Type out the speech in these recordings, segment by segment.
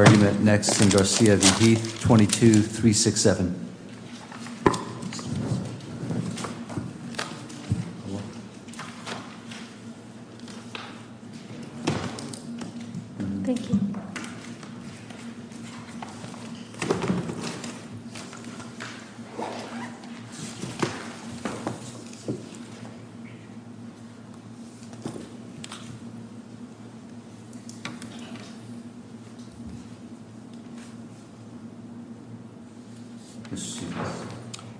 22-367.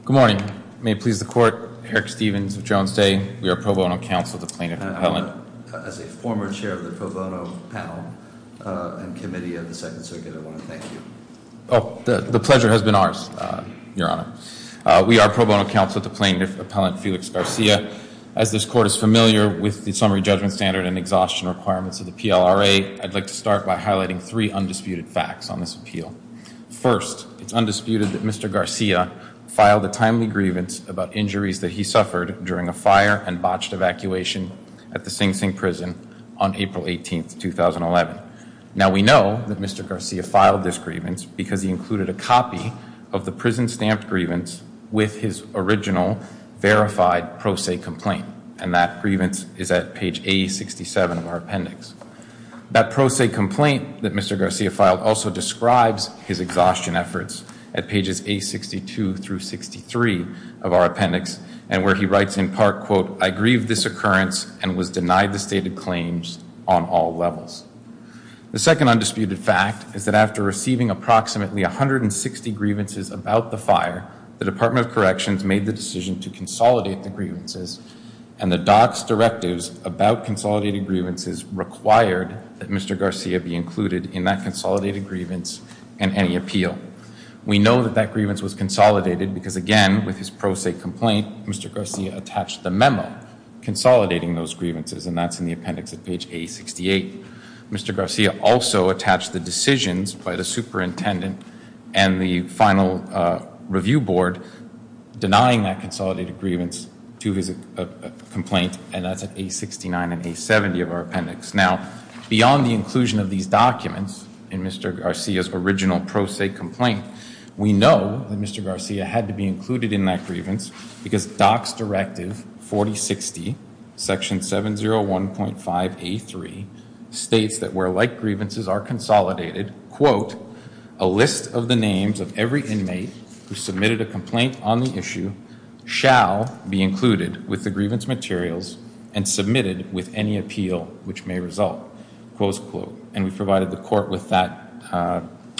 Good morning. May it please the court. Eric Stevens of Jones Day. We are pro bono counsel at the plaintiff appellant. As a former chair of the pro bono panel and committee of the Second Circuit, I want to thank you. The pleasure has been ours, Your Honor. We are pro bono counsel at the plaintiff appellant, Felix Garcia. As this court is familiar with the summary judgment standard and exhaustion requirements of the PLRA, I'd like to start by highlighting three undisputed facts on this appeal. First, it's undisputed that Mr. Garcia filed a timely grievance about injuries that he suffered during a fire and botched evacuation at the Sing Sing prison on April 18, 2011. Now we know that Mr. Garcia filed this grievance because he included a copy of the prison stamped grievance with his original verified pro se complaint. And that grievance is at page A67 of our appendix. That pro se complaint that Mr. Garcia filed also describes his exhaustion efforts at pages A62 through 63 of our appendix. And where he writes in part, quote, I grieve this occurrence and was denied the stated claims on all levels. The second undisputed fact is that after receiving approximately 160 grievances about the fire, the Department of Corrections made the decision to consolidate the grievances. And the docs directives about consolidated grievances required that Mr. Garcia be included in that consolidated grievance and any appeal. We know that that grievance was consolidated because again, with his pro se complaint, Mr. Garcia attached the memo consolidating those grievances. And that's in the appendix at page A68. Mr. Garcia also attached the decisions by the superintendent and the final review board denying that consolidated grievance to his complaint. And that's at A69 and A70 of our appendix. Now, beyond the inclusion of these documents in Mr. Garcia's original pro se complaint, we know that Mr. Garcia had to be included in that grievance because docs directive 4060, section 701.5A3 states that where like grievances are consolidated, quote, a list of the names of every inmate who submitted a complaint on the issue shall be included with the grievance materials and submitted with any appeal which may result, close quote. And we provided the court with that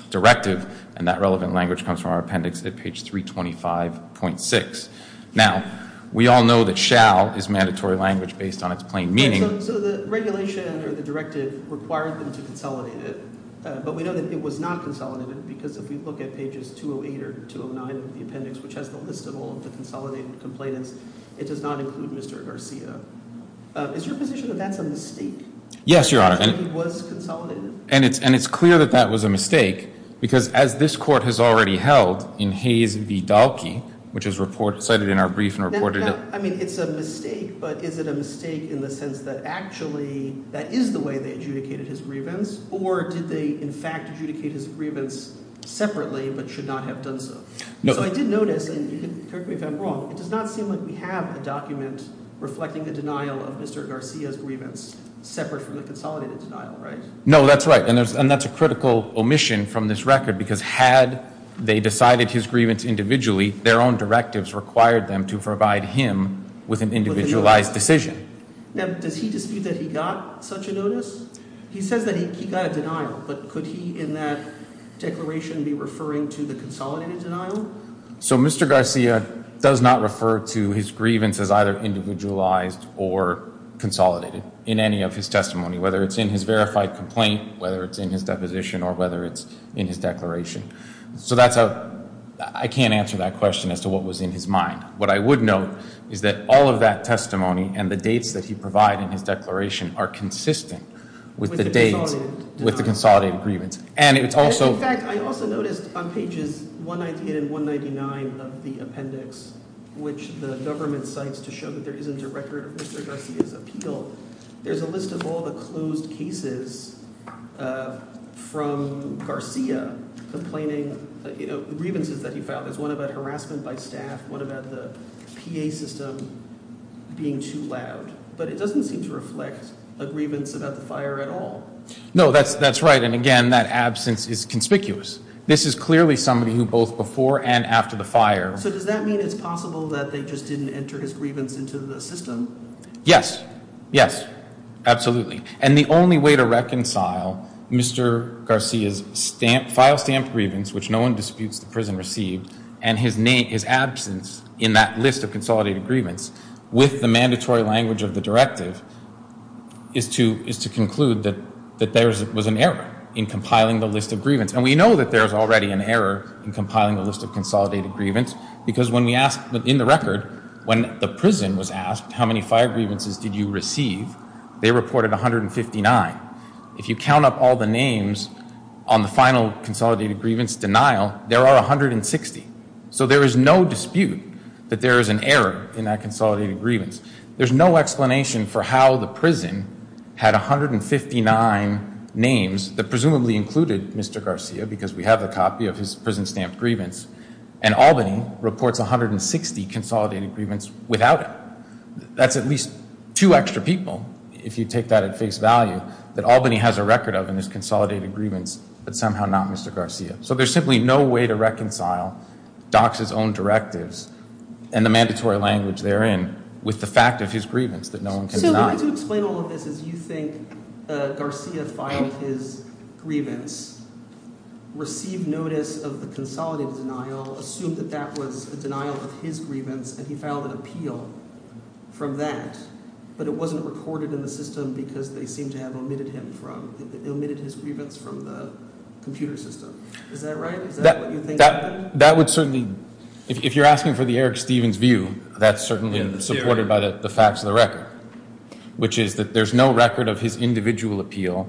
directive and that relevant language comes from our appendix at page 325.6. Now, we all know that shall is mandatory language based on its plain meaning. So the regulation or the directive required them to consolidate it, but we know that it was not consolidated because if we look at pages 208 or 209 of the appendix, which has the list of all of the consolidated complainants, it does not include Mr. Garcia. Is your position that that's a mistake? Yes, Your Honor. That he was consolidated? And it's clear that that was a mistake because as this court has already held in Hayes v. Dahlke, which is cited in our brief and reported it. I mean, it's a mistake, but is it a mistake in the sense that actually that is the way they adjudicated his grievance? Or did they in fact adjudicate his grievance separately but should not have done so? So I did notice, and correct me if I'm wrong, it does not seem like we have a document reflecting the denial of Mr. Garcia's grievance separate from the consolidated denial, right? No, that's right. And that's a critical omission from this record because had they decided his grievance individually, their own directives required them to provide him with an individualized decision. Now, does he dispute that he got such a notice? He says that he got a denial, but could he in that declaration be referring to the consolidated denial? So Mr. Garcia does not refer to his grievance as either individualized or consolidated in any of his testimony, whether it's in his verified complaint, whether it's in his deposition, or whether it's in his declaration. So that's a, I can't answer that question as to what was in his mind. What I would note is that all of that testimony and the dates that he provided in his declaration are consistent with the dates, with the consolidated grievance. In fact, I also noticed on pages 198 and 199 of the appendix, which the government cites to show that there isn't a record of Mr. Garcia's appeal, there's a list of all the closed cases from Garcia complaining grievances that he filed. There's one about harassment by staff, one about the PA system being too loud. But it doesn't seem to reflect a grievance about the fire at all. No, that's right. And again, that absence is conspicuous. This is clearly somebody who both before and after the fire. So does that mean it's possible that they just didn't enter his grievance into the system? Yes. Yes. Absolutely. And the only way to reconcile Mr. Garcia's file stamp grievance, which no one disputes the prison received, and his absence in that list of consolidated grievance with the mandatory language of the directive is to conclude that there was an error in compiling the list of grievance. And we know that there's already an error in compiling the list of consolidated grievance. Because when we asked, in the record, when the prison was asked how many fire grievances did you receive, they reported 159. If you count up all the names on the final consolidated grievance denial, there are 160. So there is no dispute that there is an error in that consolidated grievance. There's no explanation for how the prison had 159 names that presumably included Mr. Garcia, because we have a copy of his prison-stamped grievance, and Albany reports 160 consolidated grievance without it. That's at least two extra people, if you take that at face value, that Albany has a record of in this consolidated grievance, but somehow not Mr. Garcia. So there's simply no way to reconcile Dock's own directives and the mandatory language therein with the fact of his grievance that no one can deny. So the way to explain all of this is you think Garcia filed his grievance, received notice of the consolidated denial, assumed that that was a denial of his grievance, and he filed an appeal from that. But it wasn't recorded in the system because they seem to have omitted his grievance from the computer system. Is that right? Is that what you think happened? If you're asking for the Eric Stevens view, that's certainly supported by the facts of the record, which is that there's no record of his individual appeal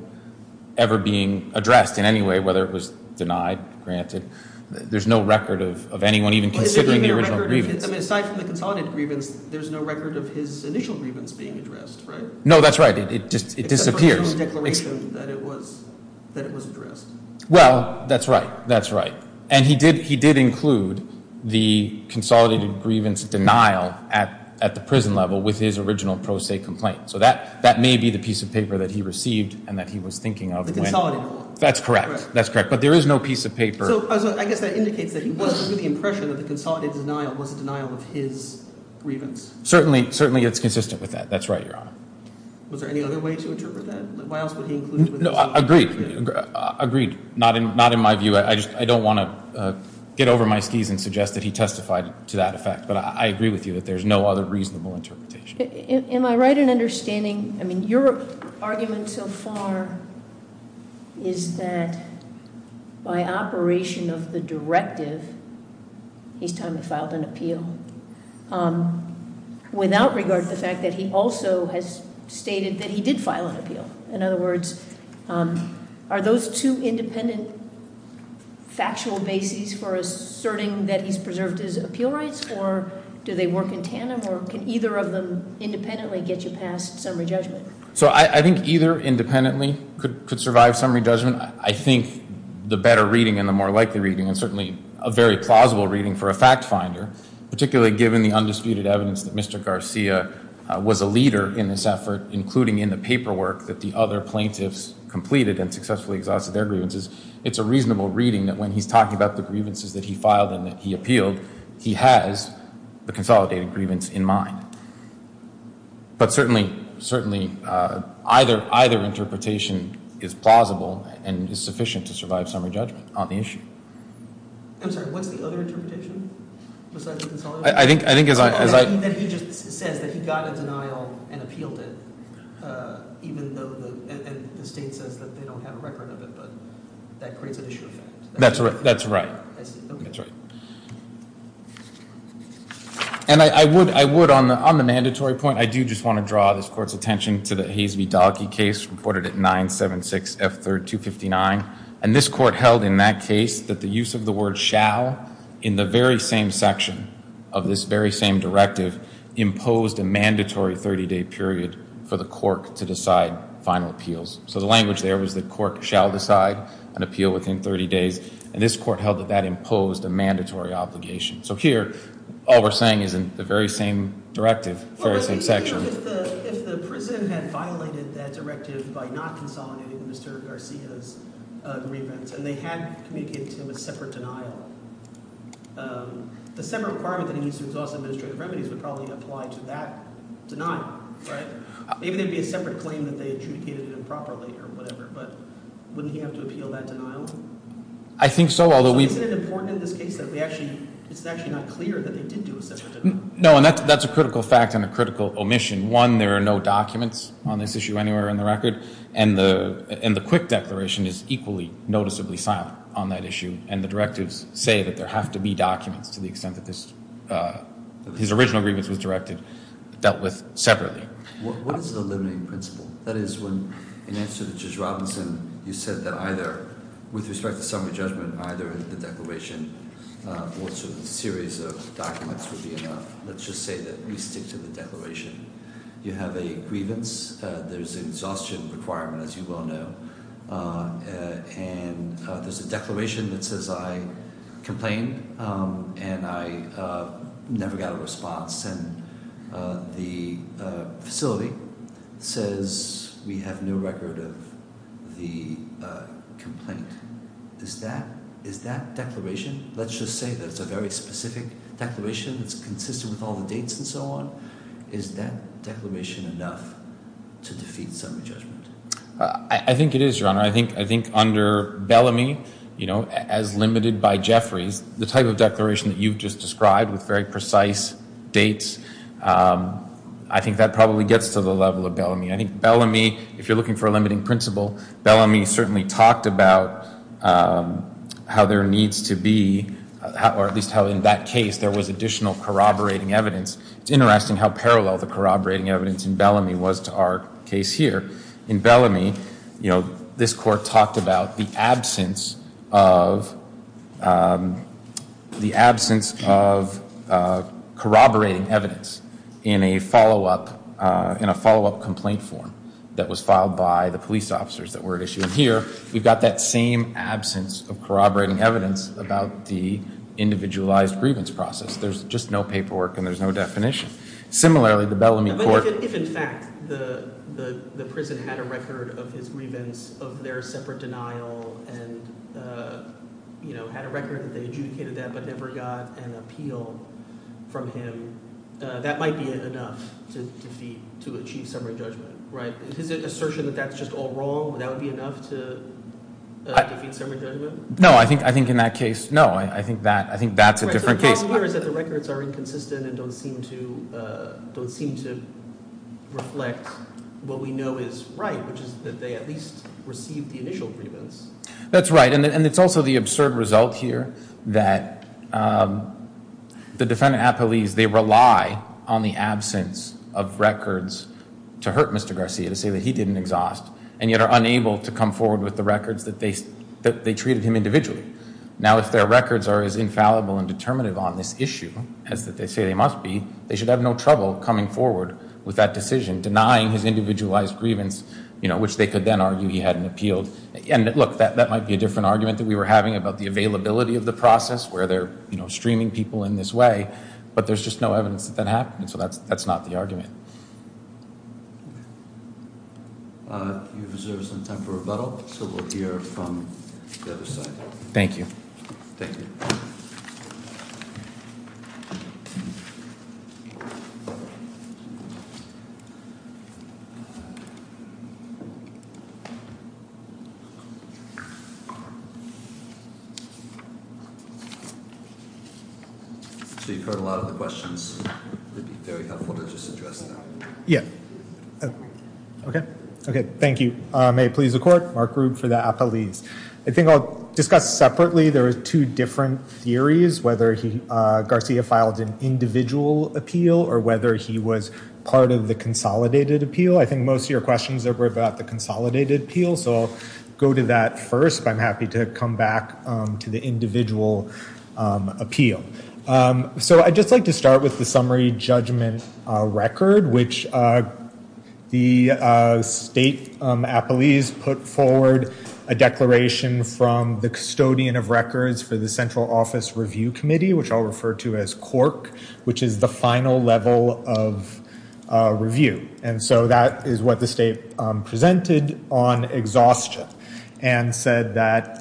ever being addressed in any way, whether it was denied, granted. There's no record of anyone even considering the original grievance. Aside from the consolidated grievance, there's no record of his initial grievance being addressed, right? No, that's right. It disappears. It's the first known declaration that it was addressed. Well, that's right. That's right. And he did include the consolidated grievance denial at the prison level with his original pro se complaint. So that may be the piece of paper that he received and that he was thinking of. The consolidated one. That's correct. That's correct. But there is no piece of paper. So I guess that indicates that he was under the impression that the consolidated denial was a denial of his grievance. Certainly. Certainly it's consistent with that. That's right, Your Honor. Was there any other way to interpret that? Why else would he include it? No, I agree. Agreed. Not in my view. I don't want to get over my skis and suggest that he testified to that effect. But I agree with you that there's no other reasonable interpretation. Am I right in understanding? I mean, your argument so far is that by operation of the directive, he's time to filed an appeal without regard to the fact that he also has stated that he did file an appeal. In other words, are those two independent factual bases for asserting that he's preserved his appeal rights? Or do they work in tandem? Or can either of them independently get you past summary judgment? So I think either independently could survive summary judgment. I think the better reading and the more likely reading and certainly a very plausible reading for a fact finder, particularly given the undisputed evidence that Mr. Garcia was a leader in this effort, including in the paperwork that the other plaintiffs completed and successfully exhausted their grievances. It's a reasonable reading that when he's talking about the grievances that he filed and that he appealed, he has the consolidated grievance in mind. But certainly, certainly either either interpretation is plausible and is sufficient to survive summary judgment on the issue. I'm sorry, what's the other interpretation besides the consolidated? I think as I... That he just says that he got a denial and appealed it, even though the state says that they don't have a record of it, but that creates an issue of fact. That's right. That's right. I see. Okay. And I would, on the mandatory point, I do just want to draw this court's attention to the Hayes v. Dahlke case reported at 976F3259. And this court held in that case that the use of the word shall in the very same section of this very same directive imposed a mandatory 30-day period for the court to decide final appeals. So the language there was the court shall decide an appeal within 30 days. And this court held that that imposed a mandatory obligation. So here, all we're saying is in the very same directive, very same section. If the president had violated that directive by not consolidating Mr. Garcia's grievance and they had communicated to him a separate denial, the separate requirement that he needs to exhaust administrative remedies would probably apply to that denial, right? Maybe there would be a separate claim that they adjudicated improperly or whatever, but wouldn't he have to appeal that denial? I think so, although we... Isn't it important in this case that we actually, it's actually not clear that they did do a separate denial? No, and that's a critical fact and a critical omission. One, there are no documents on this issue anywhere in the record, and the quick declaration is equally noticeably silent on that issue. And the directives say that there have to be documents to the extent that this, his original grievance was directed, dealt with separately. What is the limiting principle? That is when, in answer to Judge Robinson, you said that either, with respect to summary judgment, either the declaration or a series of documents would be enough. Let's just say that we stick to the declaration. You have a grievance. There's an exhaustion requirement, as you well know. And there's a declaration that says, I complain, and I never got a response. And the facility says we have no record of the complaint. Is that declaration, let's just say that it's a very specific declaration that's consistent with all the dates and so on, is that declaration enough to defeat summary judgment? I think under Bellamy, as limited by Jeffries, the type of declaration that you've just described with very precise dates, I think that probably gets to the level of Bellamy. I think Bellamy, if you're looking for a limiting principle, Bellamy certainly talked about how there needs to be, or at least how in that case there was additional corroborating evidence. It's interesting how parallel the corroborating evidence in Bellamy was to our case here. In Bellamy, this court talked about the absence of corroborating evidence in a follow-up complaint form that was filed by the police officers that were at issue. Here, we've got that same absence of corroborating evidence about the individualized grievance process. There's just no paperwork and there's no definition. If in fact the prison had a record of his grievance, of their separate denial, and had a record that they adjudicated that but never got an appeal from him, that might be enough to achieve summary judgment. His assertion that that's just all wrong, that would be enough to defeat summary judgment? No, I think in that case, no. I think that's a different case. The problem here is that the records are inconsistent and don't seem to reflect what we know is right, which is that they at least received the initial grievance. That's right, and it's also the absurd result here that the defendant at police, they rely on the absence of records to hurt Mr. Garcia, to say that he didn't exhaust, and yet are unable to come forward with the records that they treated him individually. Now, if their records are as infallible and determinative on this issue as that they say they must be, they should have no trouble coming forward with that decision, denying his individualized grievance, which they could then argue he hadn't appealed. Look, that might be a different argument that we were having about the availability of the process, where they're streaming people in this way, but there's just no evidence that that happened, so that's not the argument. You deserve some time for rebuttal, so we'll hear from the other side. Thank you. Thank you. Thank you. Thank you. Mark Rube for the appellees. I think I'll discuss separately, there are two different theories, whether Garcia filed an individual appeal or whether he was part of the consolidated appeal. I think most of your questions are about the consolidated appeal, so I'll go to that first, but I'm happy to come back to the individual appeal. So I'd just like to start with the summary judgment record, which the state appellees put forward a declaration from the custodian of records for the Central Office Review Committee, which I'll refer to as CORC, which is the final level of review. And so that is what the state presented on exhaustion and said that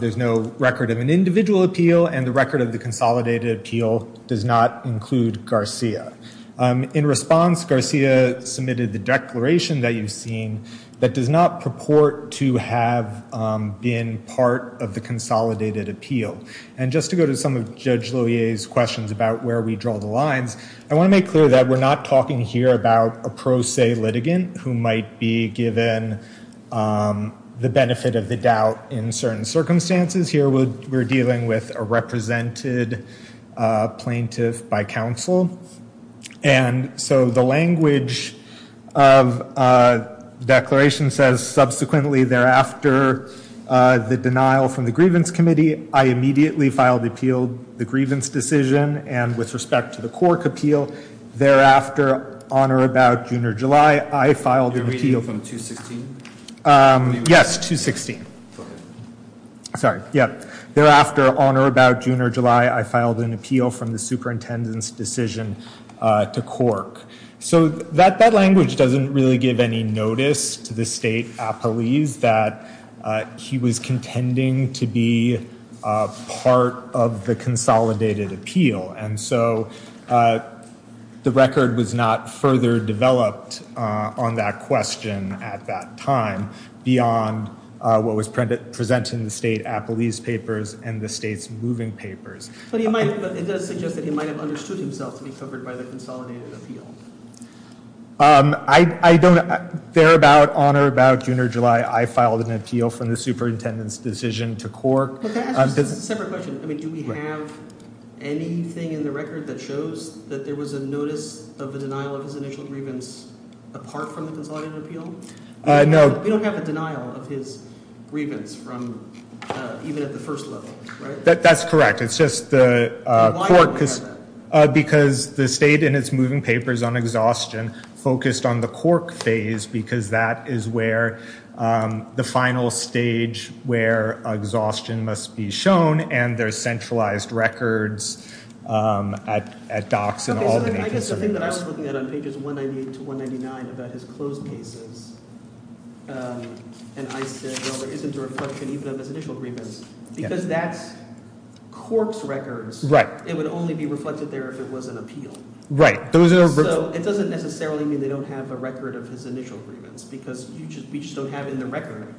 there's no record of an individual appeal and the record of the consolidated appeal does not include Garcia. In response, Garcia submitted the declaration that you've seen that does not purport to have been part of the consolidated appeal. And just to go to some of Judge Lohier's questions about where we draw the lines, I want to make clear that we're not talking here about a pro se litigant who might be given the benefit of the doubt in certain circumstances. Here we're dealing with a represented plaintiff by counsel. And so the language of the declaration says, subsequently, thereafter, the denial from the grievance committee, I immediately filed appeal, the grievance decision, and with respect to the CORC appeal, thereafter, on or about June or July, I filed an appeal. You're reading from 216? Yes, 216. Sorry, yeah. Thereafter, on or about June or July, I filed an appeal from the superintendent's decision to CORC. So that language doesn't really give any notice to the state appellees that he was contending to be part of the consolidated appeal. And so the record was not further developed on that question at that time beyond what was presented in the state appellee's papers and the state's moving papers. But it does suggest that he might have understood himself to be covered by the consolidated appeal. I don't know. Thereabout, on or about June or July, I filed an appeal from the superintendent's decision to CORC. This is a separate question. I mean, do we have anything in the record that shows that there was a notice of a denial of his initial grievance apart from the consolidated appeal? No. We don't have a denial of his grievance from even at the first level, right? That's correct. Why would we have that? And there's centralized records at DOCS and all the national committees. I guess the thing that I was looking at on pages 198 to 199 about his closed cases, and I said, well, there isn't a reflection even of his initial grievance because that's CORC's records. Right. It would only be reflected there if it was an appeal. Right. So it doesn't necessarily mean they don't have a record of his initial grievance because we just don't have in the record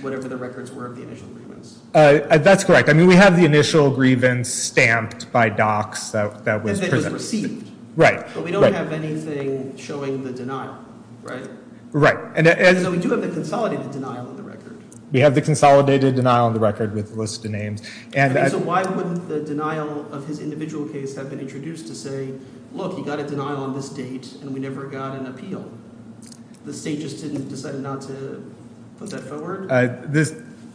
whatever the records were of the initial grievance. That's correct. I mean, we have the initial grievance stamped by DOCS that was presented. And that was received. Right. But we don't have anything showing the denial, right? Right. So we do have the consolidated denial on the record. We have the consolidated denial on the record with a list of names. So why wouldn't the denial of his individual case have been introduced to say, look, he got a denial on this date and we never got an appeal? The state just didn't decide not to put that forward?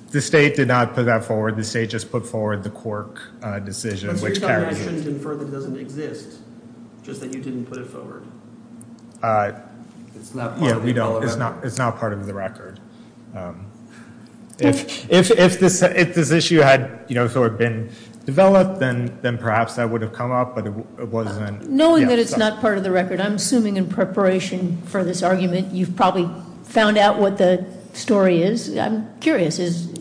The state did not put that forward. The state just put forward the CORC decision, which carries it. But you're saying that shouldn't infer that it doesn't exist, just that you didn't put it forward? It's not part of the record. It's not part of the record. If this issue had sort of been developed, then perhaps that would have come up, but it wasn't. Knowing that it's not part of the record, I'm assuming in preparation for this argument you've probably found out what the story is. I'm curious. Is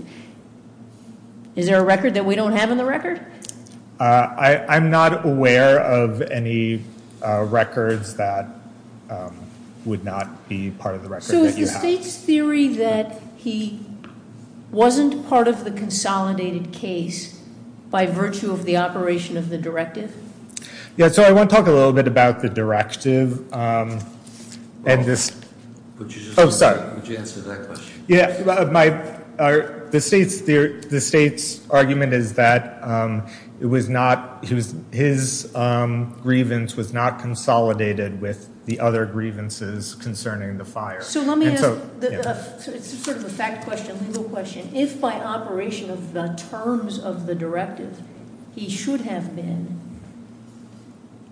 there a record that we don't have on the record? I'm not aware of any records that would not be part of the record that you have. So is the state's theory that he wasn't part of the consolidated case by virtue of the operation of the directive? Yeah, so I want to talk a little bit about the directive. Would you answer that question? Yeah, the state's argument is that his grievance was not consolidated with the other grievances concerning the fire. So let me ask sort of a fact question, legal question. If by operation of the terms of the directive, he should have been,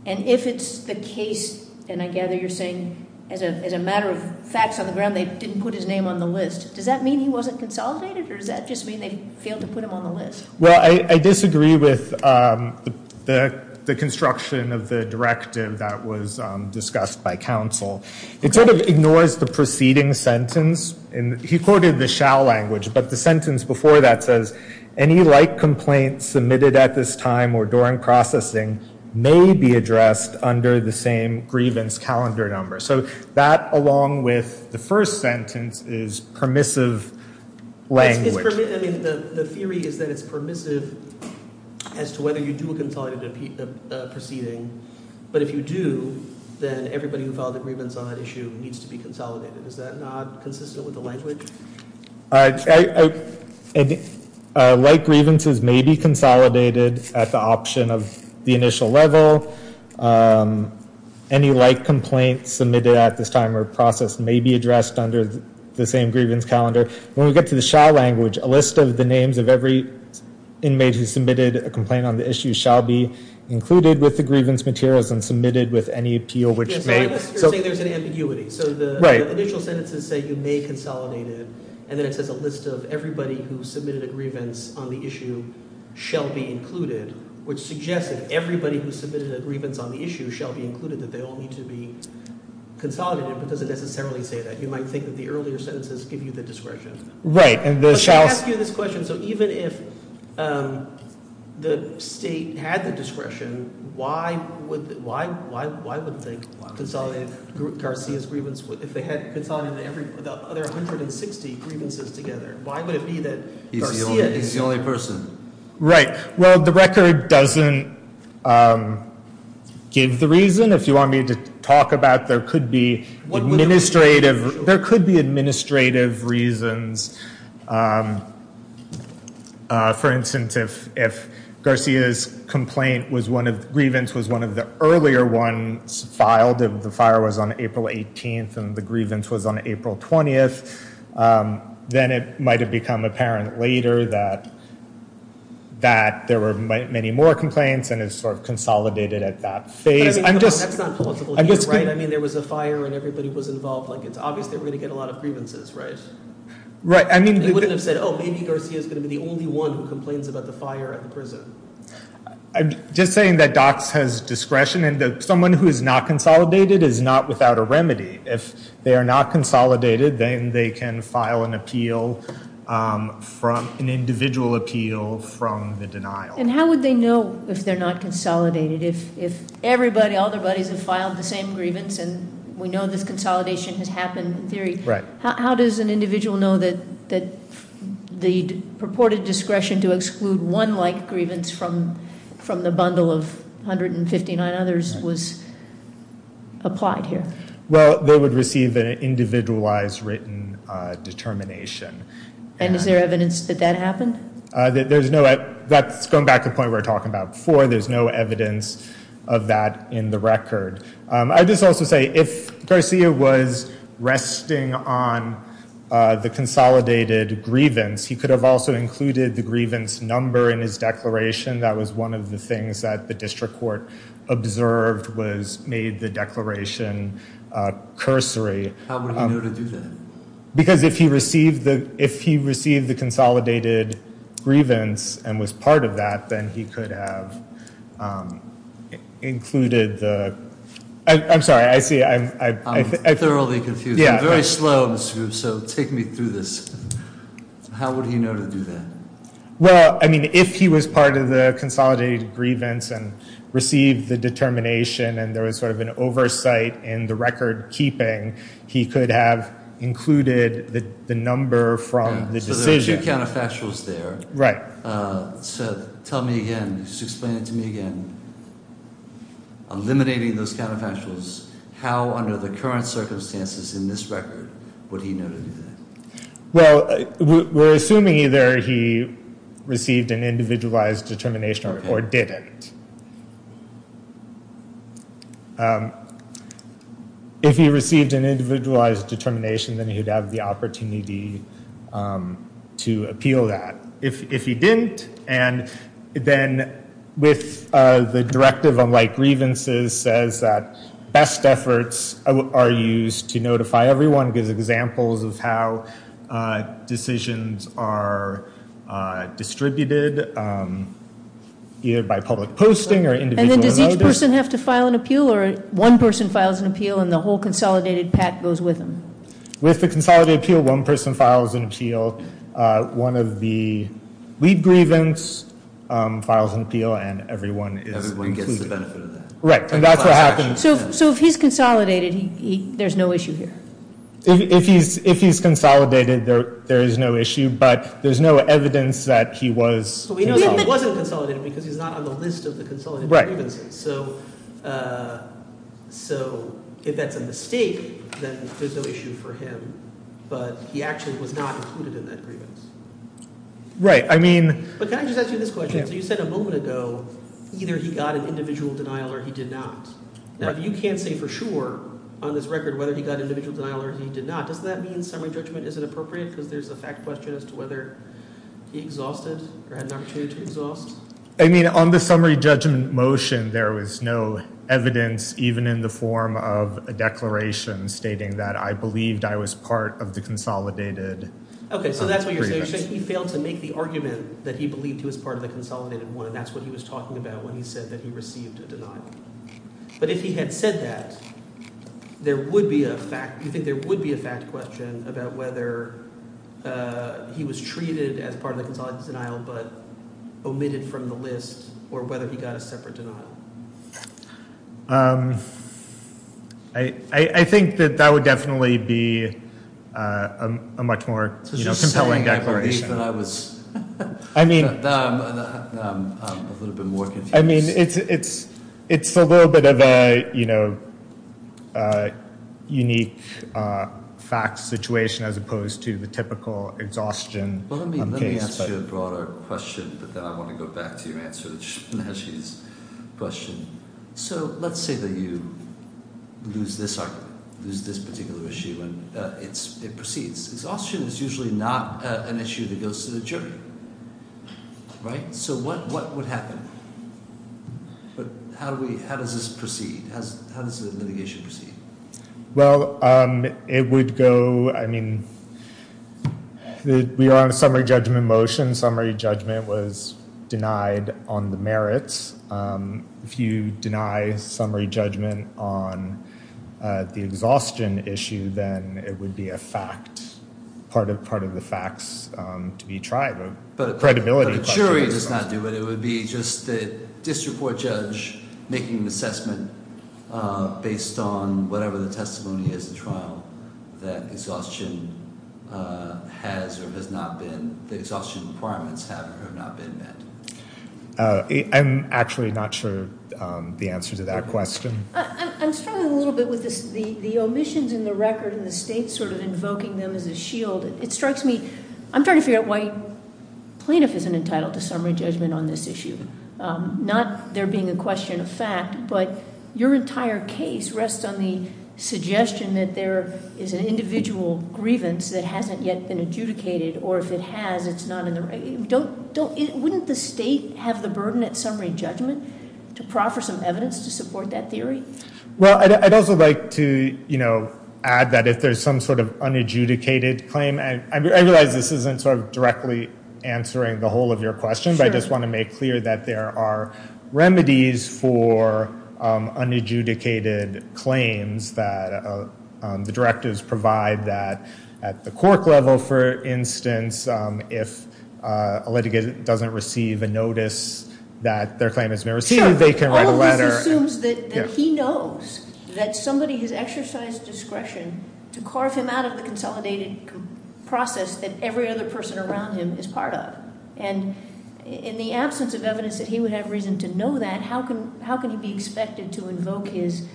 and if it's the case, and I gather you're saying as a matter of facts on the ground, they didn't put his name on the list. Does that mean he wasn't consolidated, or does that just mean they failed to put him on the list? Well, I disagree with the construction of the directive that was discussed by counsel. It sort of ignores the preceding sentence. He quoted the shall language, but the sentence before that says, any like complaints submitted at this time or during processing may be addressed under the same grievance calendar number. So that, along with the first sentence, is permissive language. The theory is that it's permissive as to whether you do a consolidated proceeding, but if you do, then everybody who filed a grievance on that issue needs to be consolidated. Is that not consistent with the language? Like grievances may be consolidated at the option of the initial level. Any like complaints submitted at this time or processed may be addressed under the same grievance calendar. When we get to the shall language, a list of the names of every inmate who submitted a complaint on the issue shall be included with the grievance materials and submitted with any appeal which may be. It's an ambiguity. So the initial sentences say you may consolidate it, and then it says a list of everybody who submitted a grievance on the issue shall be included, which suggests that everybody who submitted a grievance on the issue shall be included, that they all need to be consolidated, but doesn't necessarily say that. You might think that the earlier sentences give you the discretion. Right, and the shall. Let me ask you this question. So even if the state had the discretion, why would they consolidate Garcia's grievance? If they had consolidated the other 160 grievances together, why would it be that Garcia is- He's the only person. Right. Well, the record doesn't give the reason. If you want me to talk about, there could be administrative reasons. For instance, if Garcia's grievance was one of the earlier ones filed, if the fire was on April 18th and the grievance was on April 20th, then it might have become apparent later that there were many more complaints and it sort of consolidated at that phase. That's not plausible either, right? I mean, there was a fire and everybody was involved. Like, it's obvious they were going to get a lot of grievances, right? Right, I mean- They wouldn't have said, oh, maybe Garcia's going to be the only one who complains about the fire at the prison. I'm just saying that DOCS has discretion, and someone who is not consolidated is not without a remedy. If they are not consolidated, then they can file an appeal, an individual appeal from the denial. And how would they know if they're not consolidated? If everybody, all their buddies have filed the same grievance and we know this consolidation has happened in theory, how does an individual know that the purported discretion to exclude one like grievance from the bundle of 159 others was applied here? Well, they would receive an individualized written determination. And is there evidence that that happened? That's going back to the point we were talking about before. There's no evidence of that in the record. I would just also say, if Garcia was resting on the consolidated grievance, he could have also included the grievance number in his declaration. That was one of the things that the district court observed was made the declaration cursory. How would he know to do that? Because if he received the consolidated grievance and was part of that, then he could have included the... I'm sorry, I see... I'm thoroughly confused. I'm very slow, so take me through this. How would he know to do that? Well, I mean, if he was part of the consolidated grievance and received the determination, and there was sort of an oversight in the record keeping, he could have included the number from the decision. So there are two counterfactuals there. Right. So tell me again, just explain it to me again. Eliminating those counterfactuals, how under the current circumstances in this record would he know to do that? Well, we're assuming either he received an individualized determination or didn't. If he received an individualized determination, then he'd have the opportunity to appeal that. If he didn't, and then with the directive on light grievances says that best efforts are used to notify everyone, gives examples of how decisions are distributed either by public posting or individual notice. And then does each person have to file an appeal, or one person files an appeal and the whole consolidated pack goes with them? With the consolidated appeal, one person files an appeal. One of the lead grievance files an appeal, and everyone is included. Everyone gets the benefit of that. Right, and that's what happens. So if he's consolidated, there's no issue here? If he's consolidated, there is no issue, but there's no evidence that he was. He wasn't consolidated because he's not on the list of the consolidated grievances. Right. So if that's a mistake, then there's no issue for him, but he actually was not included in that grievance. Right, I mean. But can I just ask you this question? So you said a moment ago either he got an individual denial or he did not. Now if you can't say for sure on this record whether he got an individual denial or he did not, doesn't that mean summary judgment isn't appropriate because there's a fact question as to whether he exhausted or had an opportunity to exhaust? I mean on the summary judgment motion, there was no evidence even in the form of a declaration stating that I believed I was part of the consolidated grievance. Okay, so that's what you're saying. You're saying he failed to make the argument that he believed he was part of the consolidated one, and that's what he was talking about when he said that he received a denial. But if he had said that, there would be a fact question about whether he was treated as part of the consolidated denial but omitted from the list or whether he got a separate denial. I think that that would definitely be a much more compelling declaration. I was just saying I believe that I was a little bit more confused. I mean it's a little bit of a unique fact situation as opposed to the typical exhaustion case. I'm going to ask you a broader question, but then I want to go back to your answer to Najee's question. So let's say that you lose this argument, lose this particular issue and it proceeds. Exhaustion is usually not an issue that goes to the jury, right? So what would happen? How does this proceed? How does the litigation proceed? Well, it would go, I mean, we are on a summary judgment motion. Summary judgment was denied on the merits. If you deny summary judgment on the exhaustion issue, then it would be a fact, part of the facts to be tried. But a jury does not do it. It would be just the district court judge making an assessment based on whatever the testimony is to trial that exhaustion has or has not been, the exhaustion requirements have or have not been met. I'm actually not sure the answer to that question. I'm struggling a little bit with the omissions in the record and the state sort of invoking them as a shield. It strikes me, I'm trying to figure out why plaintiff isn't entitled to summary judgment on this issue. Not there being a question of fact, but your entire case rests on the suggestion that there is an individual grievance that hasn't yet been adjudicated, or if it has, it's not in the record. Wouldn't the state have the burden at summary judgment to proffer some evidence to support that theory? Well, I'd also like to add that if there's some sort of unadjudicated claim, and I realize this isn't sort of directly answering the whole of your question, but I just want to make clear that there are remedies for unadjudicated claims, that the directives provide that at the court level, for instance, if a litigant doesn't receive a notice that their claim has been received, they can write a letter. This assumes that he knows that somebody has exercised discretion to carve him out of the consolidated process that every other person around him is part of. And in the absence of evidence that he would have reason to know that, how can he be expected to invoke his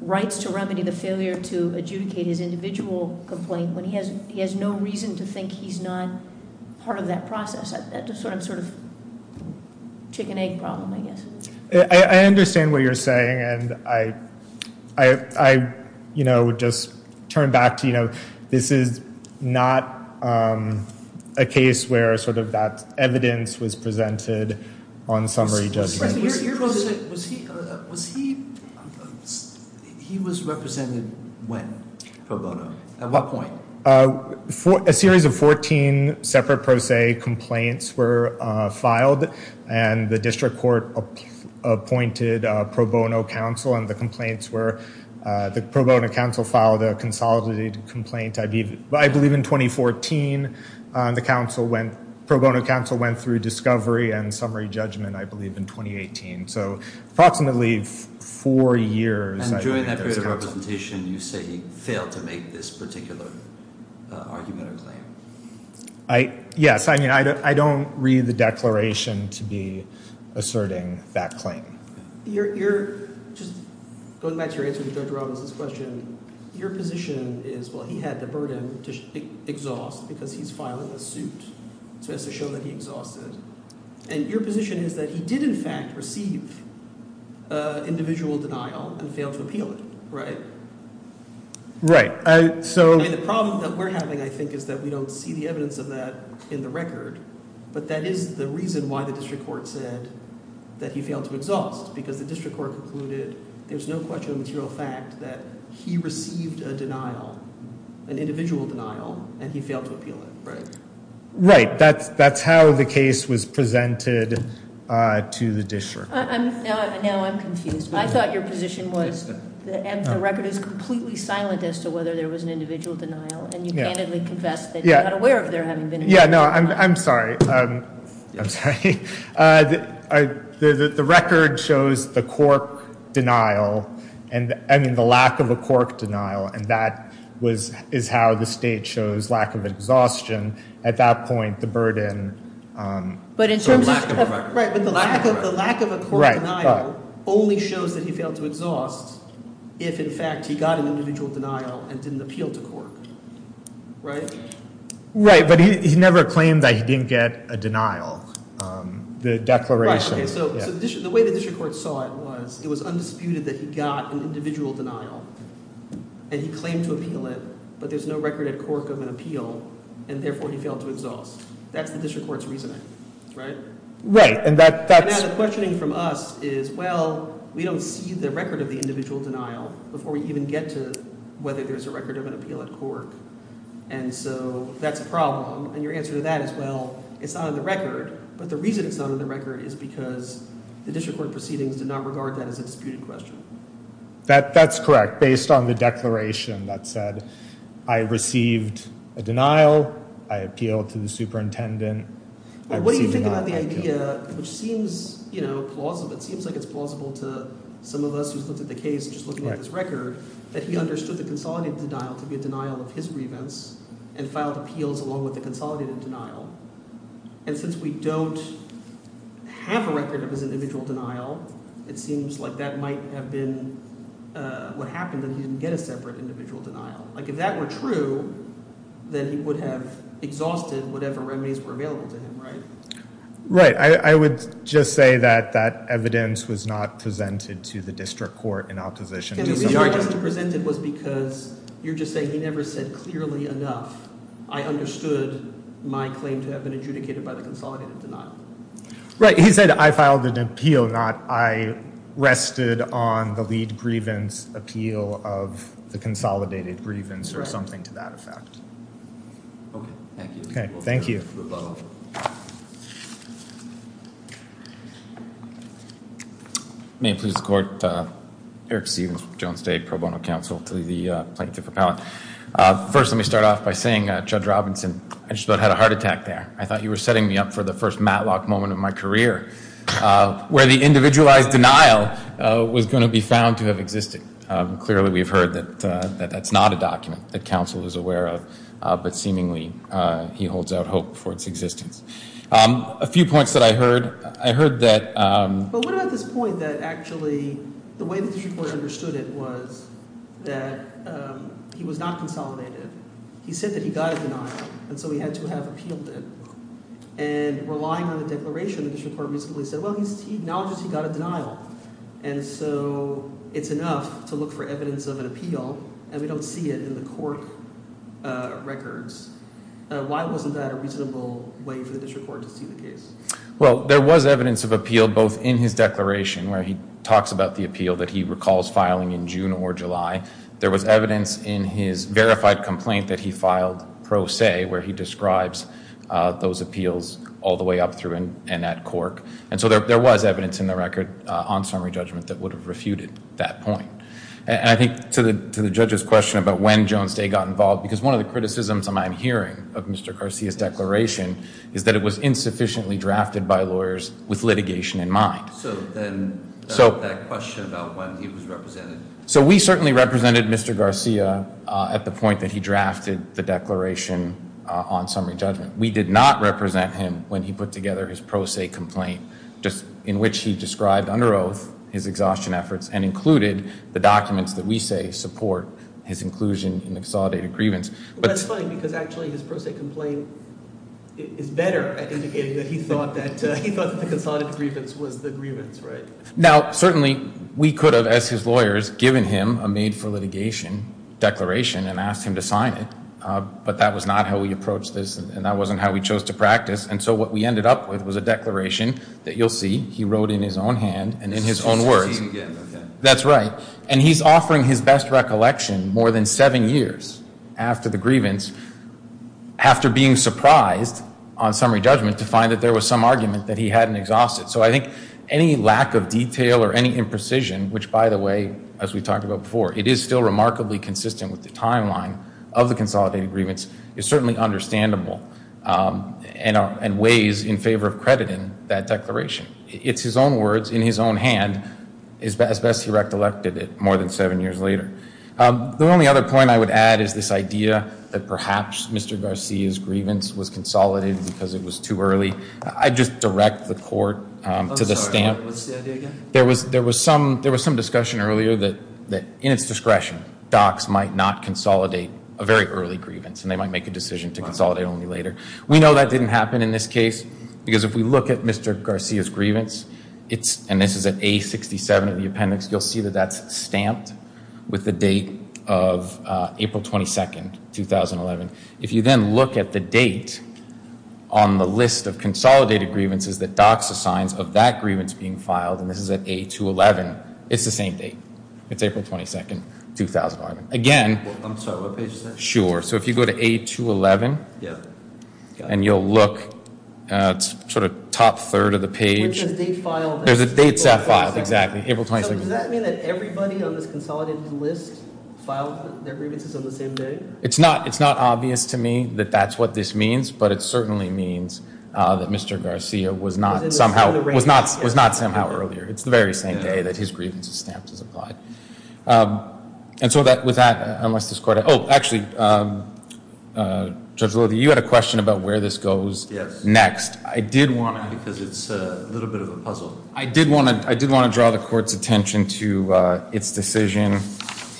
rights to remedy the failure to adjudicate his individual complaint when he has no reason to think he's not part of that process? That's a sort of chicken-egg problem, I guess. I understand what you're saying, and I, you know, just turn back to, you know, this is not a case where sort of that evidence was presented on summary judgment. Mr. President, was he, he was represented when pro bono? At what point? A series of 14 separate pro se complaints were filed, and the district court appointed a pro bono counsel, and the complaints were, the pro bono counsel filed a consolidated complaint, I believe, in 2014. The counsel went, pro bono counsel went through discovery and summary judgment, I believe, in 2018. So approximately four years. And during that period of representation, you say he failed to make this particular argument or claim. Yes, I mean, I don't read the declaration to be asserting that claim. You're, just going back to your answer to Judge Robbins' question, your position is, well, he had the burden to exhaust because he's filing a suit to show that he exhausted. And your position is that he did, in fact, receive individual denial and failed to appeal it, right? Right. So. I mean, the problem that we're having, I think, is that we don't see the evidence of that in the record, but that is the reason why the district court said that he failed to exhaust, because the district court concluded there's no question of material fact that he received a denial, an individual denial, and he failed to appeal it, right? Right. That's how the case was presented to the district. Now I'm confused. I thought your position was that the record is completely silent as to whether there was an individual denial, and you candidly confess that you're not aware of there having been an individual denial. Yeah, no, I'm sorry. I'm sorry. The record shows the cork denial, I mean, the lack of a cork denial, and that is how the state shows lack of exhaustion at that point, the burden. But in terms of the lack of a cork denial only shows that he failed to exhaust if, in fact, he got an individual denial and didn't appeal to cork, right? Right, but he never claimed that he didn't get a denial. The declaration. So the way the district court saw it was it was undisputed that he got an individual denial and he claimed to appeal it, but there's no record at cork of an appeal, and therefore he failed to exhaust. That's the district court's reasoning, right? Right, and that's— And now the questioning from us is, well, we don't see the record of the individual denial before we even get to whether there's a record of an appeal at cork, and so that's a problem. And your answer to that is, well, it's not on the record, but the reason it's not on the record is because the district court proceedings did not regard that as a disputed question. That's correct, based on the declaration that said I received a denial. I appealed to the superintendent. What do you think about the idea, which seems, you know, plausible. It seems like it's plausible to some of us who've looked at the case just looking at this record that he understood the consolidated denial to be a denial of his grievance and filed appeals along with the consolidated denial. And since we don't have a record of his individual denial, it seems like that might have been what happened, that he didn't get a separate individual denial. Like if that were true, then he would have exhausted whatever remedies were available to him, right? Right. I would just say that that evidence was not presented to the district court in opposition to— And the reason it wasn't presented was because you're just saying he never said clearly enough I understood my claim to have been adjudicated by the consolidated denial. Right. He said I filed an appeal, not I rested on the lead grievance appeal of the consolidated grievance or something to that effect. Okay. Thank you. Okay. Thank you. May it please the court, Eric Stevens with Jones State Pro Bono Council to the plaintiff appellate. First, let me start off by saying, Judge Robinson, I just about had a heart attack there. I thought you were setting me up for the first Matlock moment of my career, where the individualized denial was going to be found to have existed. Clearly, we've heard that that's not a document that counsel is aware of, but seemingly he holds out hope for its existence. A few points that I heard. I heard that— But what about this point that actually the way that the district court understood it was that he was not consolidated. He said that he got a denial, and so he had to have appealed it. And relying on the declaration, the district court reasonably said, well, he acknowledges he got a denial. And so it's enough to look for evidence of an appeal, and we don't see it in the court records. Why wasn't that a reasonable way for the district court to see the case? Well, there was evidence of appeal both in his declaration, where he talks about the appeal that he recalls filing in June or July. There was evidence in his verified complaint that he filed pro se, where he describes those appeals all the way up through and at Cork. And so there was evidence in the record on summary judgment that would have refuted that point. And I think to the judge's question about when Jones Day got involved, because one of the criticisms I'm hearing of Mr. Garcia's declaration is that it was insufficiently drafted by lawyers with litigation in mind. So then that question about when he was represented. So we certainly represented Mr. Garcia at the point that he drafted the declaration on summary judgment. We did not represent him when he put together his pro se complaint, in which he described under oath his exhaustion efforts and included the documents that we say support his inclusion in the consolidated grievance. That's funny because actually his pro se complaint is better at indicating that he thought that the consolidated grievance was the grievance, right? Now, certainly we could have, as his lawyers, given him a made for litigation declaration and asked him to sign it. But that was not how we approached this, and that wasn't how we chose to practice. And so what we ended up with was a declaration that you'll see he wrote in his own hand and in his own words. That's right. And he's offering his best recollection more than seven years after the grievance, after being surprised on summary judgment to find that there was some argument that he hadn't exhausted. So I think any lack of detail or any imprecision, which, by the way, as we talked about before, it is still remarkably consistent with the timeline of the consolidated grievance, is certainly understandable and ways in favor of crediting that declaration. It's his own words in his own hand, as best he recollected it more than seven years later. The only other point I would add is this idea that perhaps Mr. Garcia's grievance was consolidated because it was too early. I'd just direct the court to the stamp. There was some discussion earlier that in its discretion, docs might not consolidate a very early grievance and they might make a decision to consolidate only later. We know that didn't happen in this case because if we look at Mr. Garcia's grievance, and this is at A67 of the appendix, you'll see that that's stamped with the date of April 22nd, 2011. If you then look at the date on the list of consolidated grievances that docs assigns of that grievance being filed, and this is at A211, it's the same date. It's April 22nd, 2001. Again. I'm sorry, what page is that? Sure. So if you go to A211. Yeah. And you'll look at sort of top third of the page. Where it says date filed. There's a date set file, exactly, April 22nd. So does that mean that everybody on this consolidated list filed their grievances on the same day? It's not obvious to me that that's what this means, but it certainly means that Mr. Garcia was not somehow, was not somehow earlier. It's the very same day that his grievance is stamped as applied. And so with that, unless this court, oh, actually, Judge Lothi, you had a question about where this goes next. Yes. I did want to. Because it's a little bit of a puzzle. I did want to draw the court's attention to its decision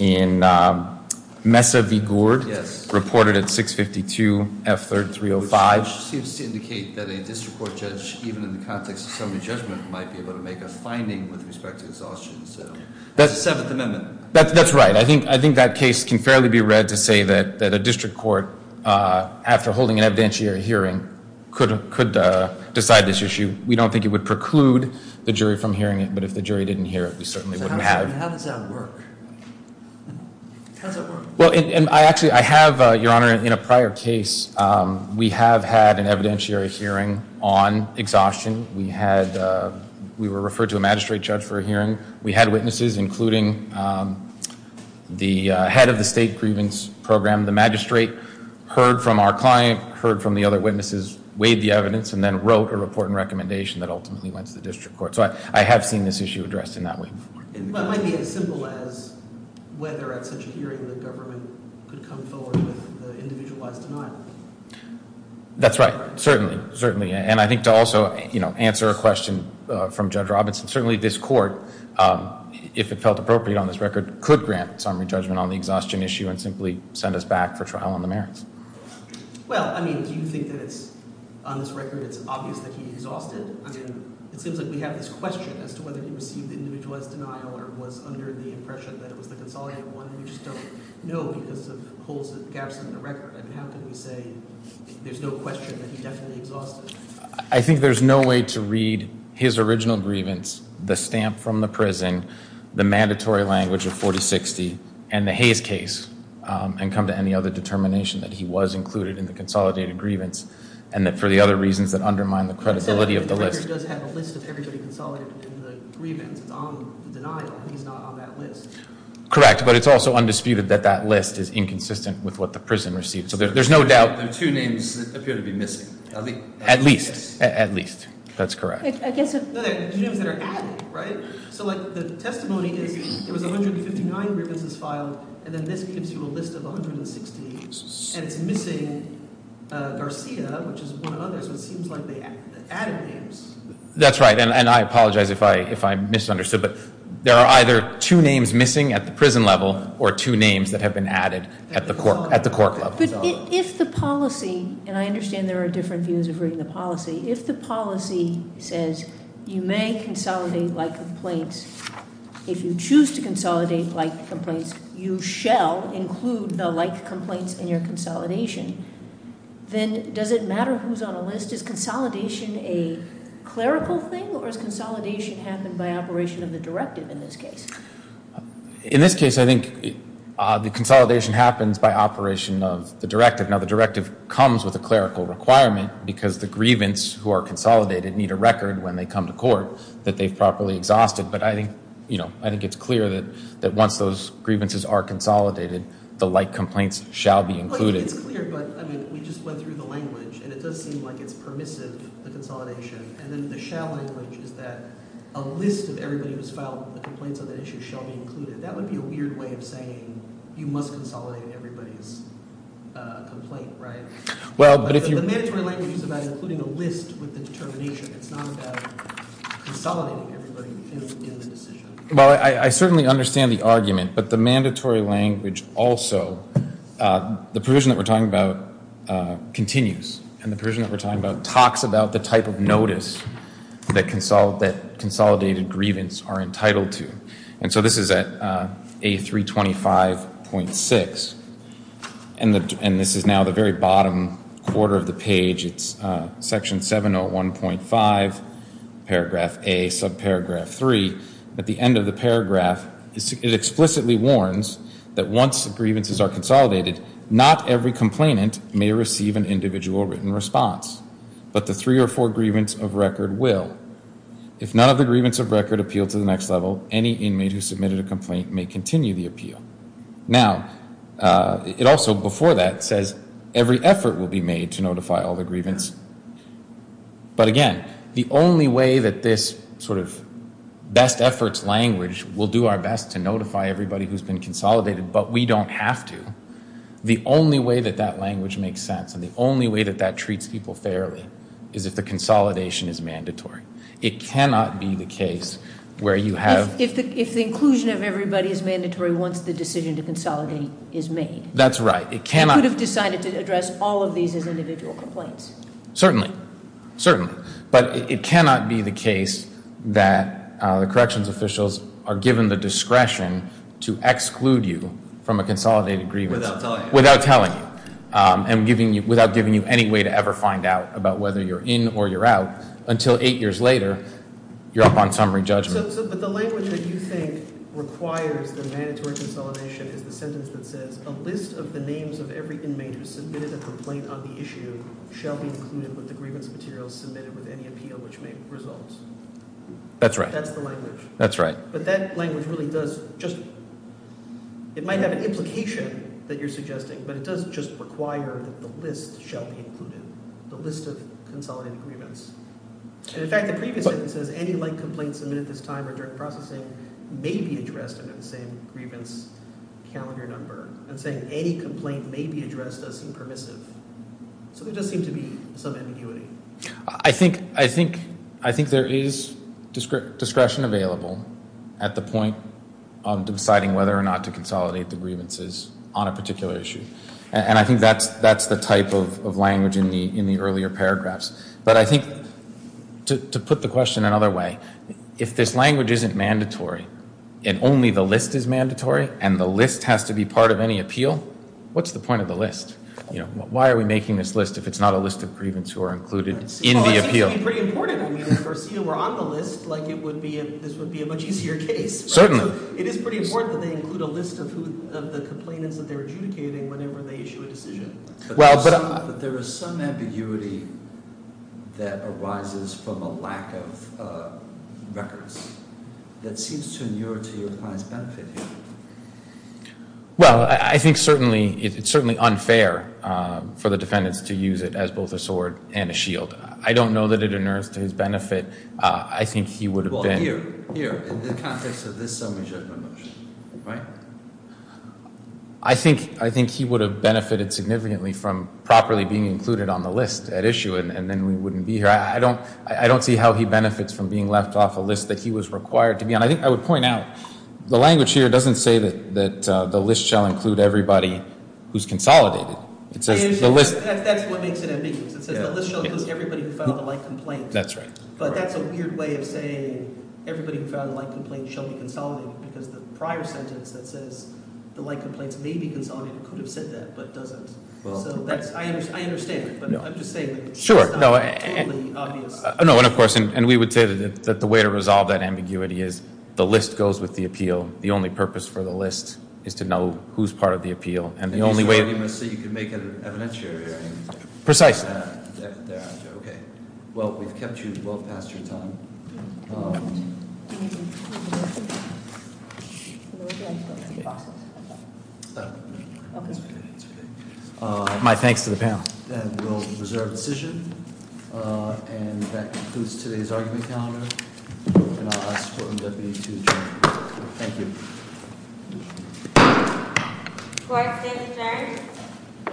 in Mesa v. Gourd. Yes. Reported at 652 F3305. Which seems to indicate that a district court judge, even in the context of summary judgment, might be able to make a finding with respect to exhaustion. So that's the Seventh Amendment. That's right. I think that case can fairly be read to say that a district court, after holding an evidentiary hearing, could decide this issue. We don't think it would preclude the jury from hearing it. But if the jury didn't hear it, we certainly wouldn't have. So how does that work? How does that work? Well, and I actually, I have, Your Honor, in a prior case, we have had an evidentiary hearing on exhaustion. We had, we were referred to a magistrate judge for a hearing. We had witnesses, including the head of the state grievance program. The magistrate heard from our client, heard from the other witnesses, weighed the evidence, and then wrote a report and recommendation that ultimately went to the district court. So I have seen this issue addressed in that way. It might be as simple as whether at such a hearing the government could come forward with the individualized denial. That's right. Certainly. Certainly. And I think to also, you know, answer a question from Judge Robinson, certainly this court, if it felt appropriate on this record, could grant summary judgment on the exhaustion issue and simply send us back for trial on the merits. Well, I mean, do you think that it's, on this record, it's obvious that he exhausted? I mean, it seems like we have this question as to whether he received the individualized denial or was under the impression that it was the consolidated one, and we just don't know because of holes and gaps in the record. I mean, how can we say there's no question that he definitely exhausted? I think there's no way to read his original grievance, the stamp from the prison, the mandatory language of 4060, and the Hayes case, and come to any other determination that he was included in the consolidated grievance and that for the other reasons that undermine the credibility of the list. So the record does have a list of everybody consolidated in the grievance on the denial. He's not on that list. Correct. But it's also undisputed that that list is inconsistent with what the prison received. So there's no doubt. There are two names that appear to be missing. At least. At least. That's correct. No, there are two names that are added, right? So, like, the testimony is there was 159 grievances filed, and then this gives you a list of 160, and it's missing Garcia, which is one of the others, so it seems like they added names. That's right, and I apologize if I misunderstood, but there are either two names missing at the prison level or two names that have been added at the court level. But if the policy, and I understand there are different views of reading the policy, if the policy says you may consolidate like complaints, if you choose to consolidate like complaints, you shall include the like complaints in your consolidation, then does it matter who's on a list? Is consolidation a clerical thing, or has consolidation happened by operation of the directive in this case? In this case, I think the consolidation happens by operation of the directive. Now, the directive comes with a clerical requirement because the grievance who are consolidated need a record when they come to court that they've properly exhausted, but I think it's clear that once those grievances are consolidated, the like complaints shall be included. It's clear, but, I mean, we just went through the language, and it does seem like it's permissive, the consolidation, and then the shall language is that a list of everybody who's filed a complaint on that issue shall be included. That would be a weird way of saying you must consolidate everybody's complaint, right? The mandatory language is about including a list with the determination. It's not about consolidating everybody in the decision. Well, I certainly understand the argument, but the mandatory language also, the provision that we're talking about continues, and the provision that we're talking about talks about the type of notice that consolidated grievance are entitled to, and so this is at A325.6, and this is now the very bottom quarter of the page. It's section 701.5, paragraph A, subparagraph 3. At the end of the paragraph, it explicitly warns that once the grievances are consolidated, not every complainant may receive an individual written response, but the three or four grievance of record will. If none of the grievance of record appeal to the next level, any inmate who submitted a complaint may continue the appeal. Now, it also, before that, says every effort will be made to notify all the grievance, but again, the only way that this sort of best efforts language will do our best to notify everybody who's been consolidated, but we don't have to, the only way that that language makes sense and the only way that that treats people fairly is if the consolidation is mandatory. It cannot be the case where you have. If the inclusion of everybody is mandatory once the decision to consolidate is made. That's right. You could have decided to address all of these as individual complaints. Certainly, certainly, but it cannot be the case that the corrections officials are given the discretion to exclude you from a consolidated grievance. Without telling you. Without giving you any way to ever find out about whether you're in or you're out until eight years later, you're up on summary judgment. But the language that you think requires the mandatory consolidation is the sentence that says, a list of the names of every inmate who submitted a complaint on the issue shall be included with the grievance materials submitted with any appeal which may result. That's right. That's the language. That's right. But that language really does just, it might have an implication that you're suggesting, but it does just require that the list shall be included, the list of consolidated grievance. And, in fact, the previous sentence says any like complaints submitted at this time or during processing may be addressed under the same grievance calendar number. I'm saying any complaint may be addressed does seem permissive. So there does seem to be some ambiguity. I think there is discretion available at the point of deciding whether or not to consolidate the grievances on a particular issue. And I think that's the type of language in the earlier paragraphs. But I think to put the question another way, if this language isn't mandatory and only the list is mandatory and the list has to be part of any appeal, what's the point of the list? Why are we making this list if it's not a list of grievance who are included in the appeal? Well, it seems to be pretty important. I mean, we're on the list like this would be a much easier case. Certainly. It is pretty important that they include a list of the complainants that they're adjudicating whenever they issue a decision. But there is some ambiguity that arises from a lack of records that seems to inure to your client's benefit here. Well, I think certainly it's unfair for the defendants to use it as both a sword and a shield. I don't know that it inures to his benefit. I think he would have been. Here, in the context of this summary judgment motion, right? I think he would have benefited significantly from properly being included on the list at issue and then we wouldn't be here. I don't see how he benefits from being left off a list that he was required to be on. I think I would point out the language here doesn't say that the list shall include everybody who's consolidated. It says the list. That's what makes it ambiguous. It says the list shall include everybody who filed a light complaint. That's right. But that's a weird way of saying everybody who filed a light complaint shall be consolidated because the prior sentence that says the light complaints may be consolidated could have said that but doesn't. So I understand. But I'm just saying it's not totally obvious. No, and of course, and we would say that the way to resolve that ambiguity is the list goes with the appeal. The only purpose for the list is to know who's part of the appeal. So you can make an evidentiary argument. Precisely. Okay. Well, we've kept you well past your time. My thanks to the panel. And we'll reserve the decision. And that concludes today's argument calendar. And I'll ask the Deputy to adjourn. Thank you. Court is adjourned.